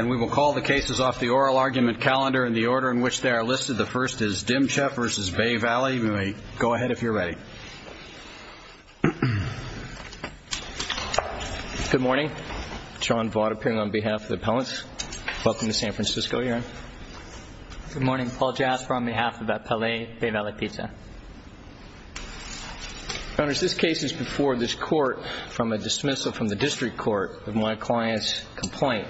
We will call the cases off the oral argument calendar in the order in which they are listed. The first is Dimcheff v. Bay Valley, we may go ahead if you're ready. Good morning, John Vaught appearing on behalf of the appellants. Welcome to San Francisco. Good morning, Paul Jasper on behalf of Appellee Bay Valley Pizza. Founders, this case is before this court from a dismissal from the district court of my client's complaint.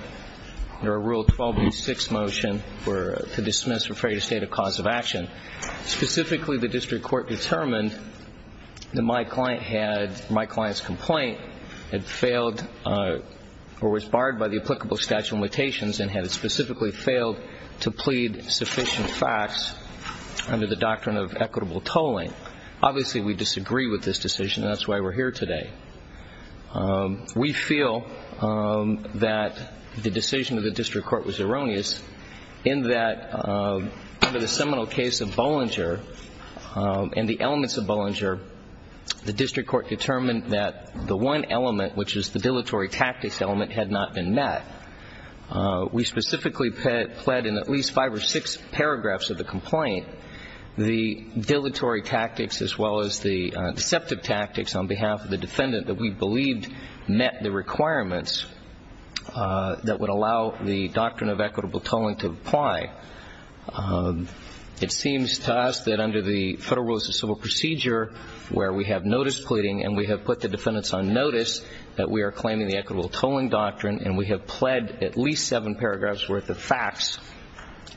Under a rule 12.6 motion to dismiss, refer you to state of cause of action. Specifically, the district court determined that my client's complaint had failed or was barred by the applicable statute of limitations and had specifically failed to plead sufficient facts under the doctrine of equitable tolling. Obviously, we disagree with this decision, that's why we're here today. We feel that the decision of the district court was erroneous in that under the seminal case of Bollinger and the elements of Bollinger, the district court determined that the one element, which is the dilatory tactics element, had not been met. We specifically pled in at least five or six paragraphs of the complaint the dilatory tactics as well as the deceptive tactics on behalf of the defendant that we believed met the requirements that would allow the doctrine of equitable tolling to apply. It seems to us that under the Federal Rules of Civil Procedure where we have notice pleading and we have put the defendants on notice that we are claiming the equitable tolling doctrine and we have pled at least seven paragraphs worth of facts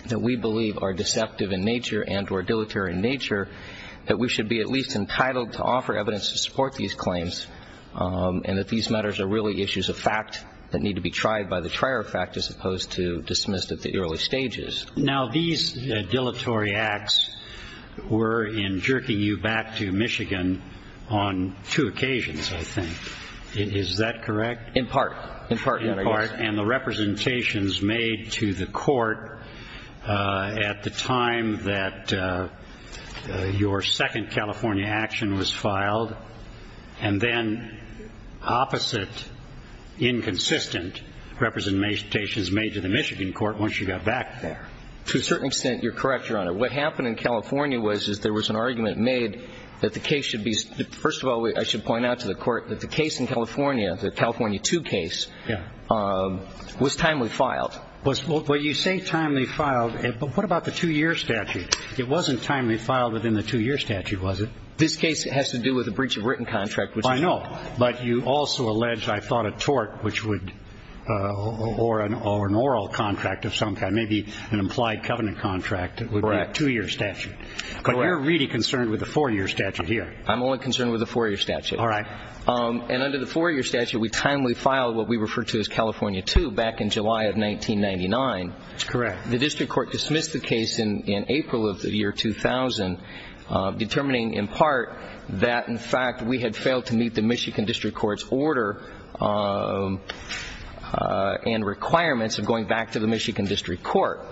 that we believe are deceptive in nature and or dilatory in nature, that we should be at least entitled to offer evidence to support these claims and that these matters are really issues of fact that need to be tried by the trier of fact as opposed to dismissed at the early stages. Now, these dilatory acts were in jerking you back to Michigan on two occasions, I think. Is that correct? In part. In part, yes. And the representations made to the court at the time that your second California action was filed and then opposite inconsistent representations made to the Michigan court once you got back there. To a certain extent, you're correct, Your Honor. What happened in California was that there was an argument made that the case should be First of all, I should point out to the court that the case in California, the California 2 case, was timely filed. Well, you say timely filed, but what about the two-year statute? It wasn't timely filed within the two-year statute, was it? This case has to do with a breach of written contract. I know, but you also allege, I thought, a tort or an oral contract of some kind, maybe an implied covenant contract that would be a two-year statute. Correct. But you're really concerned with the four-year statute here. I'm only concerned with the four-year statute. All right. And under the four-year statute, we timely filed what we refer to as California 2 back in July of 1999. That's correct. The district court dismissed the case in April of the year 2000, determining in part that, in fact, we had failed to meet the Michigan district court's order and requirements of going back to the Michigan district court.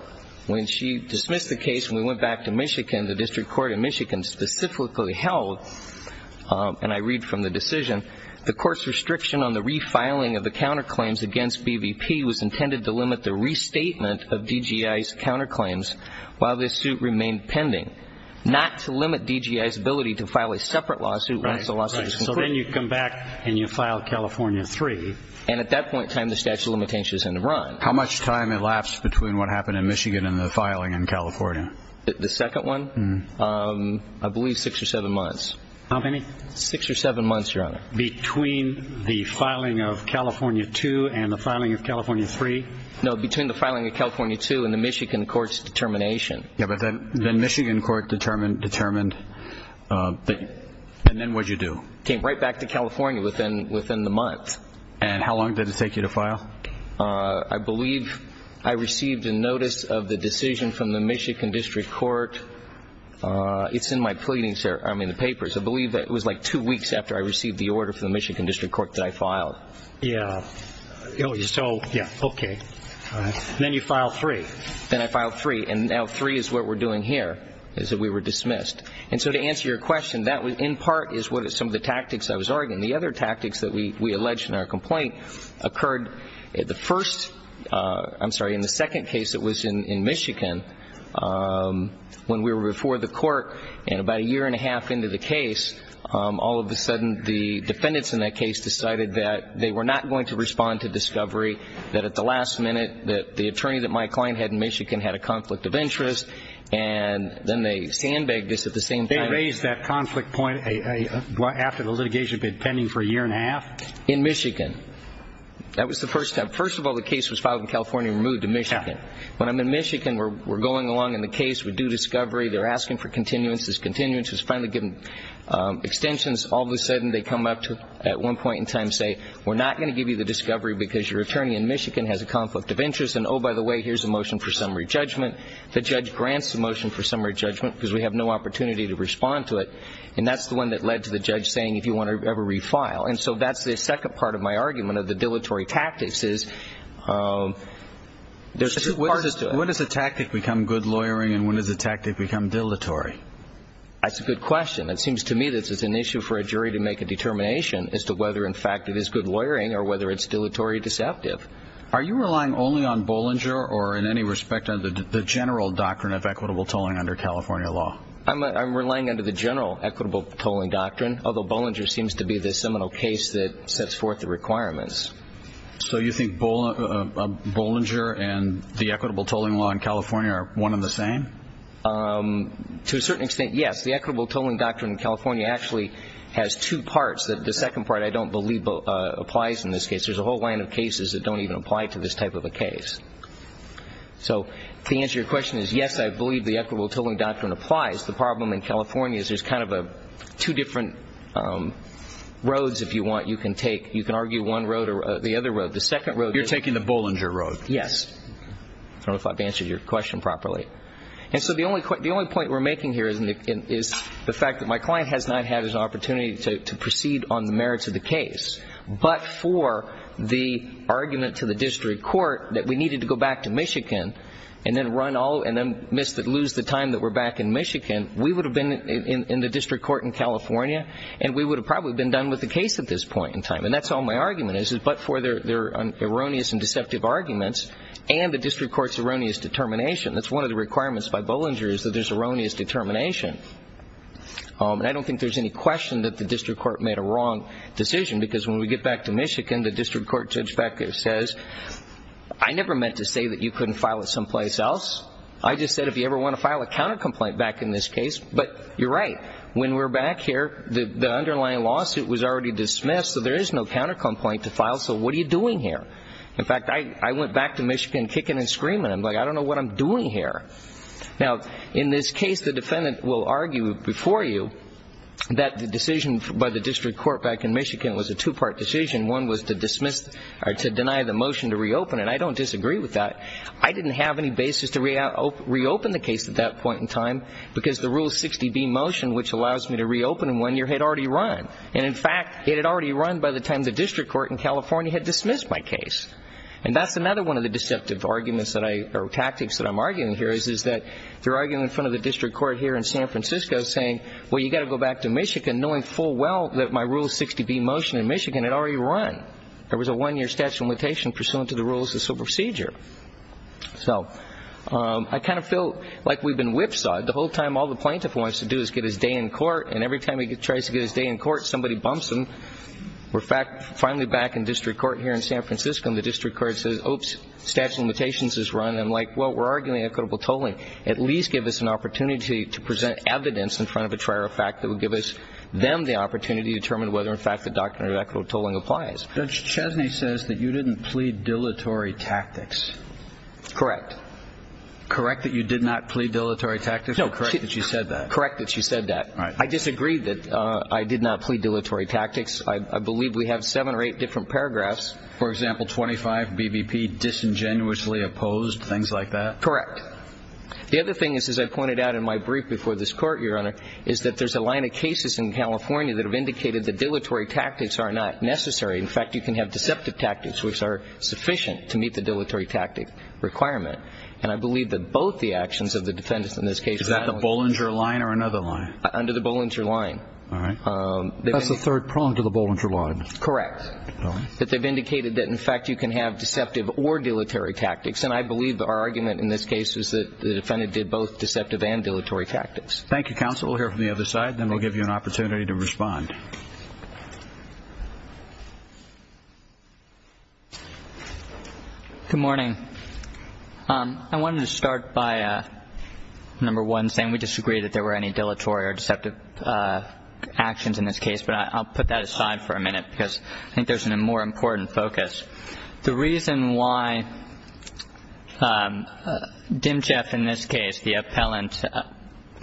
When she dismissed the case and we went back to Michigan, the district court in Michigan specifically held, and I read from the decision, the court's restriction on the refiling of the counterclaims against BVP was intended to limit the restatement of DGI's counterclaims while this suit remained pending, not to limit DGI's ability to file a separate lawsuit once the lawsuit is complete. Right. So then you come back and you file California 3. And at that point in time, the statute of limitations is in the run. How much time elapsed between what happened in Michigan and the filing in California? The second one? I believe six or seven months. How many? Six or seven months, Your Honor. Between the filing of California 2 and the filing of California 3? No, between the filing of California 2 and the Michigan court's determination. Yeah, but then Michigan court determined, and then what did you do? Came right back to California within the month. And how long did it take you to file? I believe I received a notice of the decision from the Michigan district court. It's in my pleading, sir, I mean the papers. I believe it was like two weeks after I received the order from the Michigan district court that I filed. Yeah. So, yeah, okay. And then you filed 3. Then I filed 3, and now 3 is what we're doing here, is that we were dismissed. And so to answer your question, that in part is what some of the tactics I was arguing. And the other tactics that we alleged in our complaint occurred the first, I'm sorry, in the second case that was in Michigan, when we were before the court and about a year and a half into the case, all of a sudden the defendants in that case decided that they were not going to respond to discovery that at the last minute that the attorney that my client had in Michigan had a conflict of interest, and then they sandbagged us at the same time. They raised that conflict point after the litigation had been pending for a year and a half? In Michigan. That was the first time. First of all, the case was filed in California and removed to Michigan. When I'm in Michigan, we're going along in the case, we do discovery, they're asking for continuances, continuances, finally given extensions, all of a sudden they come up at one point in time and say, we're not going to give you the discovery because your attorney in Michigan has a conflict of interest, and oh, by the way, here's a motion for summary judgment. The judge grants the motion for summary judgment because we have no opportunity to respond to it, and that's the one that led to the judge saying if you want to ever refile. And so that's the second part of my argument of the dilatory tactics is there's two parts to it. When does a tactic become good lawyering and when does a tactic become dilatory? That's a good question. It seems to me that it's an issue for a jury to make a determination as to whether, in fact, it is good lawyering or whether it's dilatory deceptive. Are you relying only on Bollinger or in any respect on the general doctrine of equitable tolling under California law? I'm relying on the general equitable tolling doctrine, although Bollinger seems to be the seminal case that sets forth the requirements. So you think Bollinger and the equitable tolling law in California are one and the same? To a certain extent, yes. The equitable tolling doctrine in California actually has two parts. The second part I don't believe applies in this case. There's a whole line of cases that don't even apply to this type of a case. So to answer your question is, yes, I believe the equitable tolling doctrine applies. The problem in California is there's kind of two different roads, if you want, you can take. You can argue one road or the other road. The second road is- You're taking the Bollinger road. Yes. I don't know if I've answered your question properly. And so the only point we're making here is the fact that my client has not had his opportunity to proceed on the merits of the case. But for the argument to the district court that we needed to go back to Michigan and then run all and then lose the time that we're back in Michigan, we would have been in the district court in California and we would have probably been done with the case at this point in time. And that's all my argument is, is but for their erroneous and deceptive arguments and the district court's erroneous determination, that's one of the requirements by Bollinger is that there's erroneous determination. And I don't think there's any question that the district court made a wrong decision because when we get back to Michigan, the district court judge back there says, I never meant to say that you couldn't file it someplace else. I just said if you ever want to file a counter complaint back in this case. But you're right. When we're back here, the underlying lawsuit was already dismissed, so there is no counter complaint to file, so what are you doing here? In fact, I went back to Michigan kicking and screaming. I'm like, I don't know what I'm doing here. Now, in this case, the defendant will argue before you that the decision by the district court back in Michigan was a two-part decision. One was to dismiss or to deny the motion to reopen, and I don't disagree with that. I didn't have any basis to reopen the case at that point in time because the Rule 60B motion, which allows me to reopen in one year, had already run. And, in fact, it had already run by the time the district court in California had dismissed my case. And that's another one of the deceptive arguments or tactics that I'm arguing here is that they're arguing in front of the district court here in San Francisco saying, well, you've got to go back to Michigan knowing full well that my Rule 60B motion in Michigan had already run. There was a one-year statute of limitation pursuant to the rules of the procedure. So I kind of feel like we've been whipsawed. The whole time all the plaintiff wants to do is get his day in court, and every time he tries to get his day in court, somebody bumps him. We're finally back in district court here in San Francisco, and the district court says, oops, statute of limitations has run. I'm like, well, we're arguing equitable tolling. At least give us an opportunity to present evidence in front of a trial that would give us then the opportunity to determine whether in fact the doctrine of equitable tolling applies. Judge Chesney says that you didn't plead dilatory tactics. Correct. Correct that you did not plead dilatory tactics? No. Correct that she said that. Correct that she said that. I disagree that I did not plead dilatory tactics. I believe we have seven or eight different paragraphs. For example, 25, BBP, disingenuously opposed, things like that? Correct. The other thing is, as I pointed out in my brief before this court, Your Honor, is that there's a line of cases in California that have indicated that dilatory tactics are not necessary. In fact, you can have deceptive tactics, which are sufficient to meet the dilatory tactic requirement. And I believe that both the actions of the defendants in this case. Is that the Bollinger line or another line? Under the Bollinger line. All right. That's the third prong to the Bollinger line. Correct. That they've indicated that, in fact, you can have deceptive or dilatory tactics. And I believe our argument in this case is that the defendant did both deceptive and dilatory tactics. Thank you, counsel. We'll hear from the other side. Then we'll give you an opportunity to respond. Good morning. I wanted to start by, number one, saying we disagree that there were any dilatory or deceptive actions in this case, but I'll put that aside for a minute because I think there's a more important focus. The reason why Dimcheff in this case, the appellant,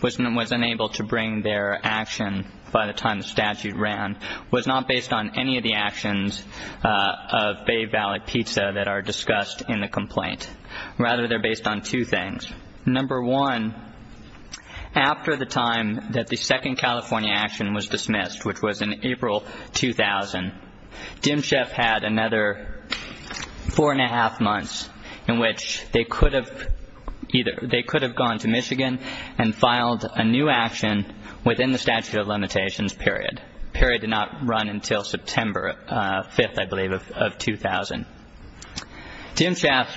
was unable to bring their action by the time the statute ran was not based on any of the actions of Bay Valley Pizza that are discussed in the complaint. Rather, they're based on two things. Number one, after the time that the second California action was dismissed, which was in April 2000, Dimcheff had another four and a half months in which they could have gone to Michigan and filed a new action within the statute of limitations period. That period did not run until September 5th, I believe, of 2000. Dimcheff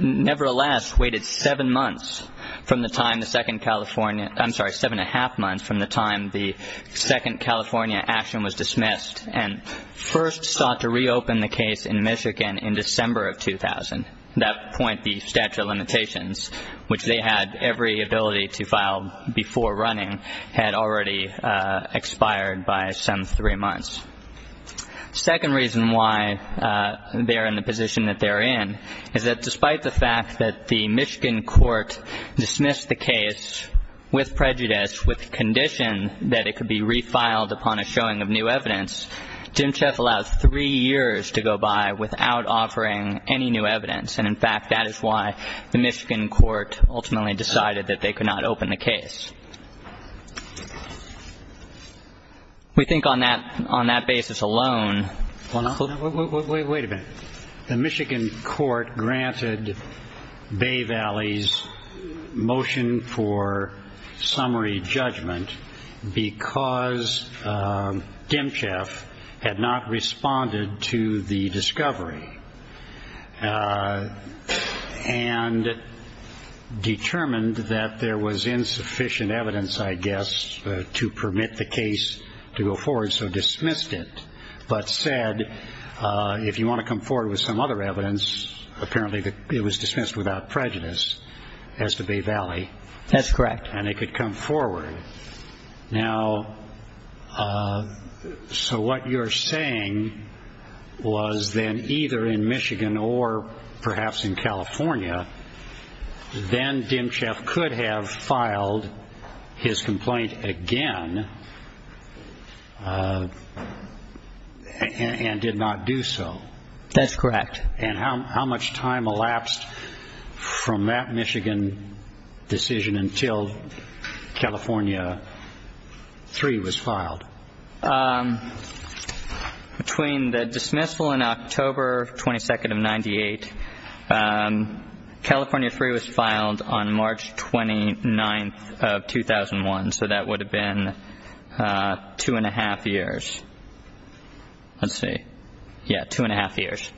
nevertheless waited seven months from the time the second California, I'm sorry, seven and a half months from the time the second California action was dismissed and first sought to reopen the case in Michigan in December of 2000. At that point, the statute of limitations, which they had every ability to file before running, had already expired by some three months. The second reason why they're in the position that they're in is that despite the fact that the Michigan court dismissed the case with prejudice with the condition that it could be refiled upon a showing of new evidence, Dimcheff allowed three years to go by without offering any new evidence. And, in fact, that is why the Michigan court ultimately decided that they could not open the case. We think on that basis alone. Wait a minute. The Michigan court granted Bay Valley's motion for summary judgment because Dimcheff had not responded to the discovery. And determined that there was insufficient evidence, I guess, to permit the case to go forward, so dismissed it, but said if you want to come forward with some other evidence, apparently it was dismissed without prejudice as to Bay Valley. That's correct. And it could come forward. Now, so what you're saying was then either in Michigan or perhaps in California, then Dimcheff could have filed his complaint again and did not do so. That's correct. And how much time elapsed from that Michigan decision until California 3 was filed? Between the dismissal in October 22nd of 98, California 3 was filed on March 29th of 2001, so that would have been two and a half years. Let's see. Yeah, two and a half years.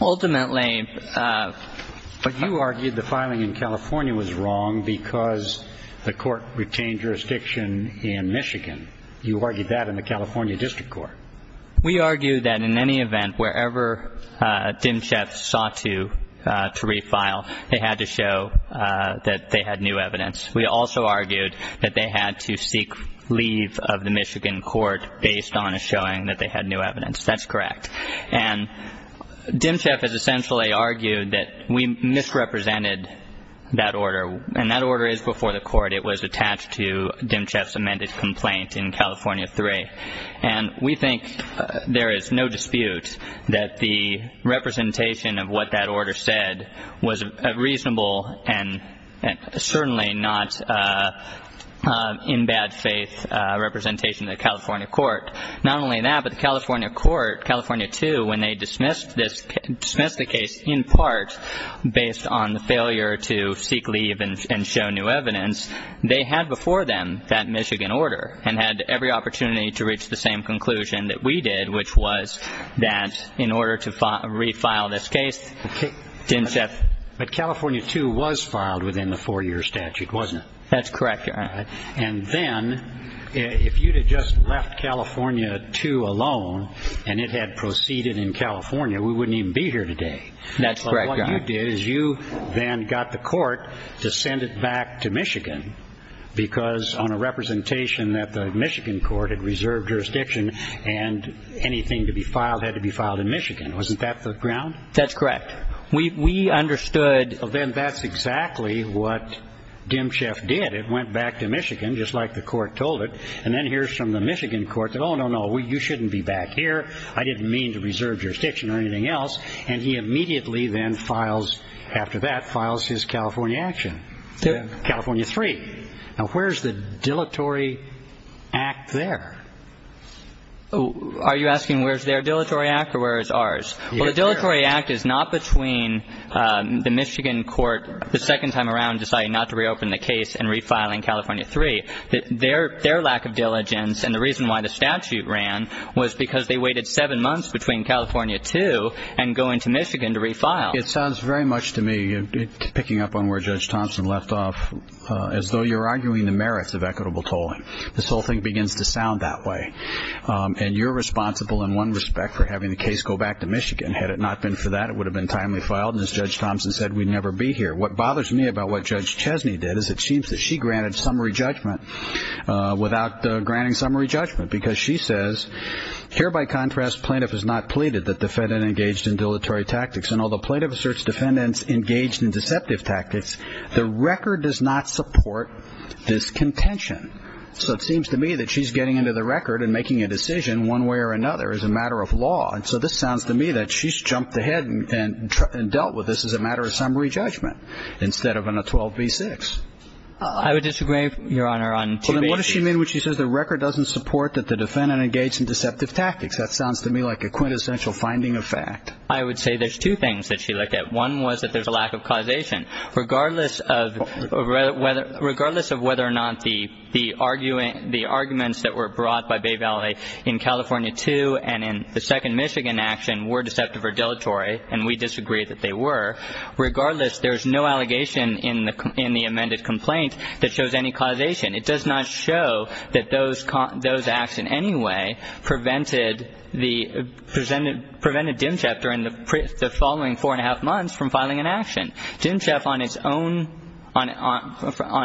Ultimately. But you argued the filing in California was wrong because the court retained jurisdiction in Michigan. You argued that in the California district court. We argued that in any event, wherever Dimcheff sought to refile, they had to show that they had new evidence. We also argued that they had to seek leave of the Michigan court based on a showing that they had new evidence. That's correct. And Dimcheff has essentially argued that we misrepresented that order, and that order is before the court. It was attached to Dimcheff's amended complaint in California 3. And we think there is no dispute that the representation of what that order said was a reasonable and certainly not in bad faith representation of the California court. Not only that, but the California court, California 2, when they dismissed the case in part based on the failure to seek leave and show new evidence, they had before them that Michigan order and had every opportunity to reach the same conclusion that we did, which was that in order to refile this case, Dimcheff. But California 2 was filed within the four-year statute, wasn't it? That's correct. And then if you had just left California 2 alone and it had proceeded in California, we wouldn't even be here today. That's correct. What you did is you then got the court to send it back to Michigan because on a representation that the Michigan court had reserved jurisdiction and anything to be filed had to be filed in Michigan. Wasn't that the ground? That's correct. We understood. Then that's exactly what Dimcheff did. It went back to Michigan, just like the court told it. And then here's from the Michigan court that, oh, no, no, you shouldn't be back here. I didn't mean to reserve jurisdiction or anything else. And he immediately then files, after that, files his California action, California 3. Now, where's the dilatory act there? Are you asking where's their dilatory act or where is ours? Well, the dilatory act is not between the Michigan court the second time around deciding not to reopen the case and refiling California 3. Their lack of diligence and the reason why the statute ran was because they waited seven months between California 2 and going to Michigan to refile. It sounds very much to me, picking up on where Judge Thompson left off, as though you're arguing the merits of equitable tolling. This whole thing begins to sound that way. And you're responsible in one respect for having the case go back to Michigan. Had it not been for that, it would have been timely filed, and as Judge Thompson said, we'd never be here. What bothers me about what Judge Chesney did is it seems that she granted summary judgment without granting summary judgment because she says, here by contrast plaintiff has not pleaded that defendant engaged in dilatory tactics. And although plaintiff asserts defendant's engaged in deceptive tactics, the record does not support this contention. So it seems to me that she's getting into the record and making a decision one way or another as a matter of law. And so this sounds to me that she's jumped ahead and dealt with this as a matter of summary judgment instead of on a 12b-6. I would disagree, Your Honor. Well, then what does she mean when she says the record doesn't support that the defendant engaged in deceptive tactics? That sounds to me like a quintessential finding of fact. I would say there's two things that she looked at. One was that there's a lack of causation. Regardless of whether or not the arguments that were brought by Bay Valley in California 2 and in the second Michigan action were deceptive or dilatory, and we disagree that they were, regardless, there's no allegation in the amended complaint that shows any causation. It does not show that those acts in any way prevented Dimcheff during the following four-and-a-half months from filing an action. Dimcheff on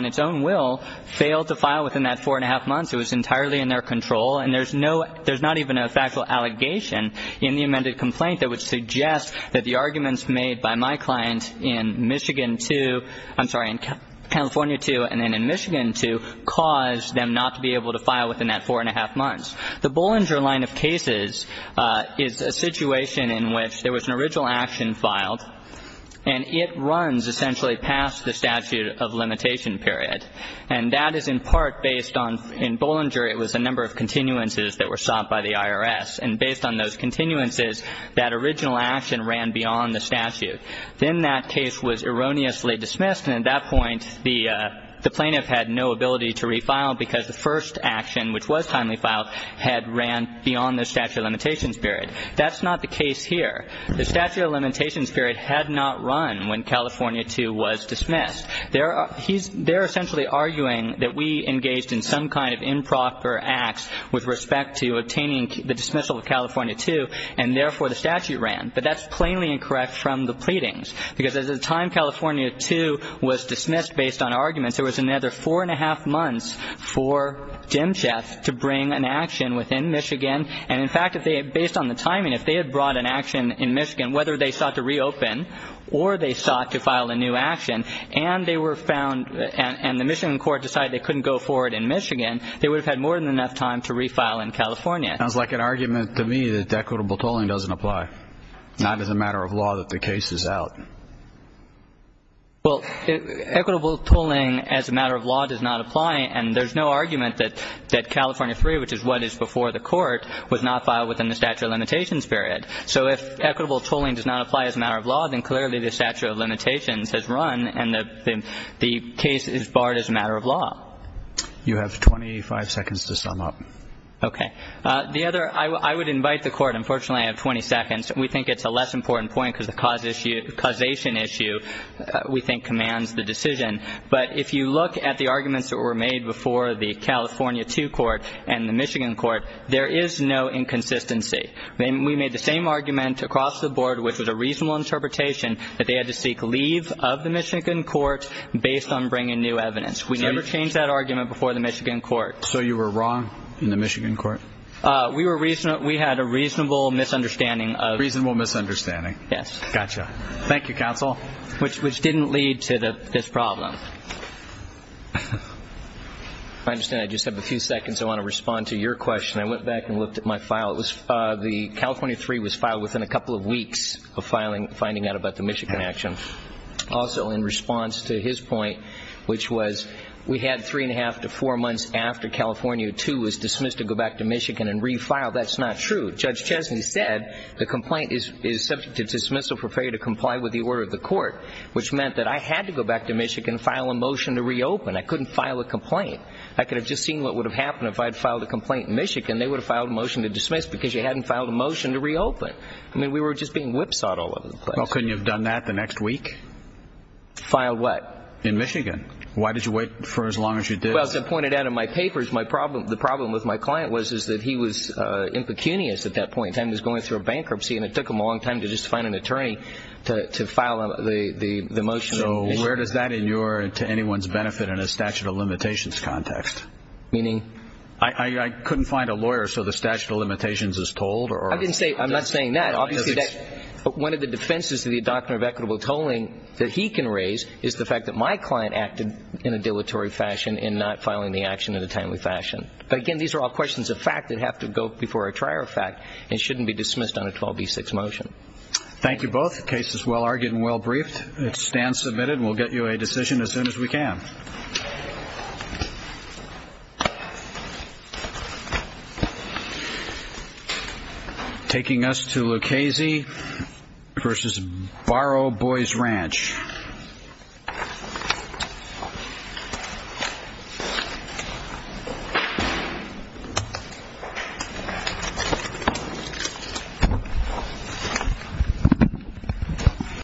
its own will failed to file within that four-and-a-half months. It was entirely in their control, and there's not even a factual allegation in the amended complaint that would suggest that the arguments made by my client in Michigan 2, I'm sorry, in California 2 and then in Michigan 2, caused them not to be able to file within that four-and-a-half months. The Bollinger line of cases is a situation in which there was an original action filed, and it runs essentially past the statute of limitation period. And that is in part based on, in Bollinger, it was a number of continuances that were sought by the IRS. And based on those continuances, that original action ran beyond the statute. Then that case was erroneously dismissed. And at that point, the plaintiff had no ability to refile because the first action, which was timely filed, had ran beyond the statute of limitation period. That's not the case here. The statute of limitation period had not run when California 2 was dismissed. They're essentially arguing that we engaged in some kind of improper acts with respect to obtaining the dismissal of California 2, and therefore the statute ran. But that's plainly incorrect from the pleadings, because at the time California 2 was dismissed based on arguments, there was another four-and-a-half months for Demchev to bring an action within Michigan. And, in fact, based on the timing, if they had brought an action in Michigan, whether they sought to reopen or they sought to file a new action, and they were found and the Michigan court decided they couldn't go forward in Michigan, they would have had more than enough time to refile in California. It sounds like an argument to me that equitable tolling doesn't apply, not as a matter of law that the case is out. Well, equitable tolling as a matter of law does not apply, and there's no argument that California 3, which is what is before the court, was not filed within the statute of limitations period. So if equitable tolling does not apply as a matter of law, then clearly the statute of limitations has run and the case is barred as a matter of law. You have 25 seconds to sum up. Okay. The other – I would invite the court – unfortunately I have 20 seconds. We think it's a less important point because the causation issue, we think, commands the decision. But if you look at the arguments that were made before the California 2 court and the Michigan court, there is no inconsistency. We made the same argument across the board, which was a reasonable interpretation, that they had to seek leave of the Michigan court based on bringing new evidence. We never changed that argument before the Michigan court. So you were wrong in the Michigan court? We were – we had a reasonable misunderstanding of – Reasonable misunderstanding. Yes. Gotcha. Thank you, counsel. Which didn't lead to this problem. I understand I just have a few seconds. I want to respond to your question. I went back and looked at my file. It was – the California 3 was filed within a couple of weeks of filing – finding out about the Michigan action. Also, in response to his point, which was we had three and a half to four months after California 2 was dismissed to go back to Michigan and refile, that's not true. Judge Chesney said the complaint is subject to dismissal for failure to comply with the order of the court, which meant that I had to go back to Michigan and file a motion to reopen. I couldn't file a complaint. I could have just seen what would have happened if I had filed a complaint in Michigan. They would have filed a motion to dismiss because you hadn't filed a motion to reopen. I mean, we were just being whipsawed all over the place. Well, couldn't you have done that the next week? Filed what? In Michigan. Why did you wait for as long as you did? Well, as I pointed out in my papers, my problem – the problem with my client was that he was impecunious at that point and was going through a bankruptcy, and it took him a long time to just find an attorney to file the motion in Michigan. So where does that inure to anyone's benefit in a statute of limitations context? Meaning? I couldn't find a lawyer, so the statute of limitations is told? I'm not saying that. Obviously, one of the defenses to the doctrine of equitable tolling that he can raise is the fact that my client acted in a dilatory fashion in not filing the action in a timely fashion. But, again, these are all questions of fact that have to go before a trier of fact and shouldn't be dismissed on a 12B6 motion. Thank you both. The case is well-argued and well-briefed. It stands submitted. We'll get you a decision as soon as we can. Thank you.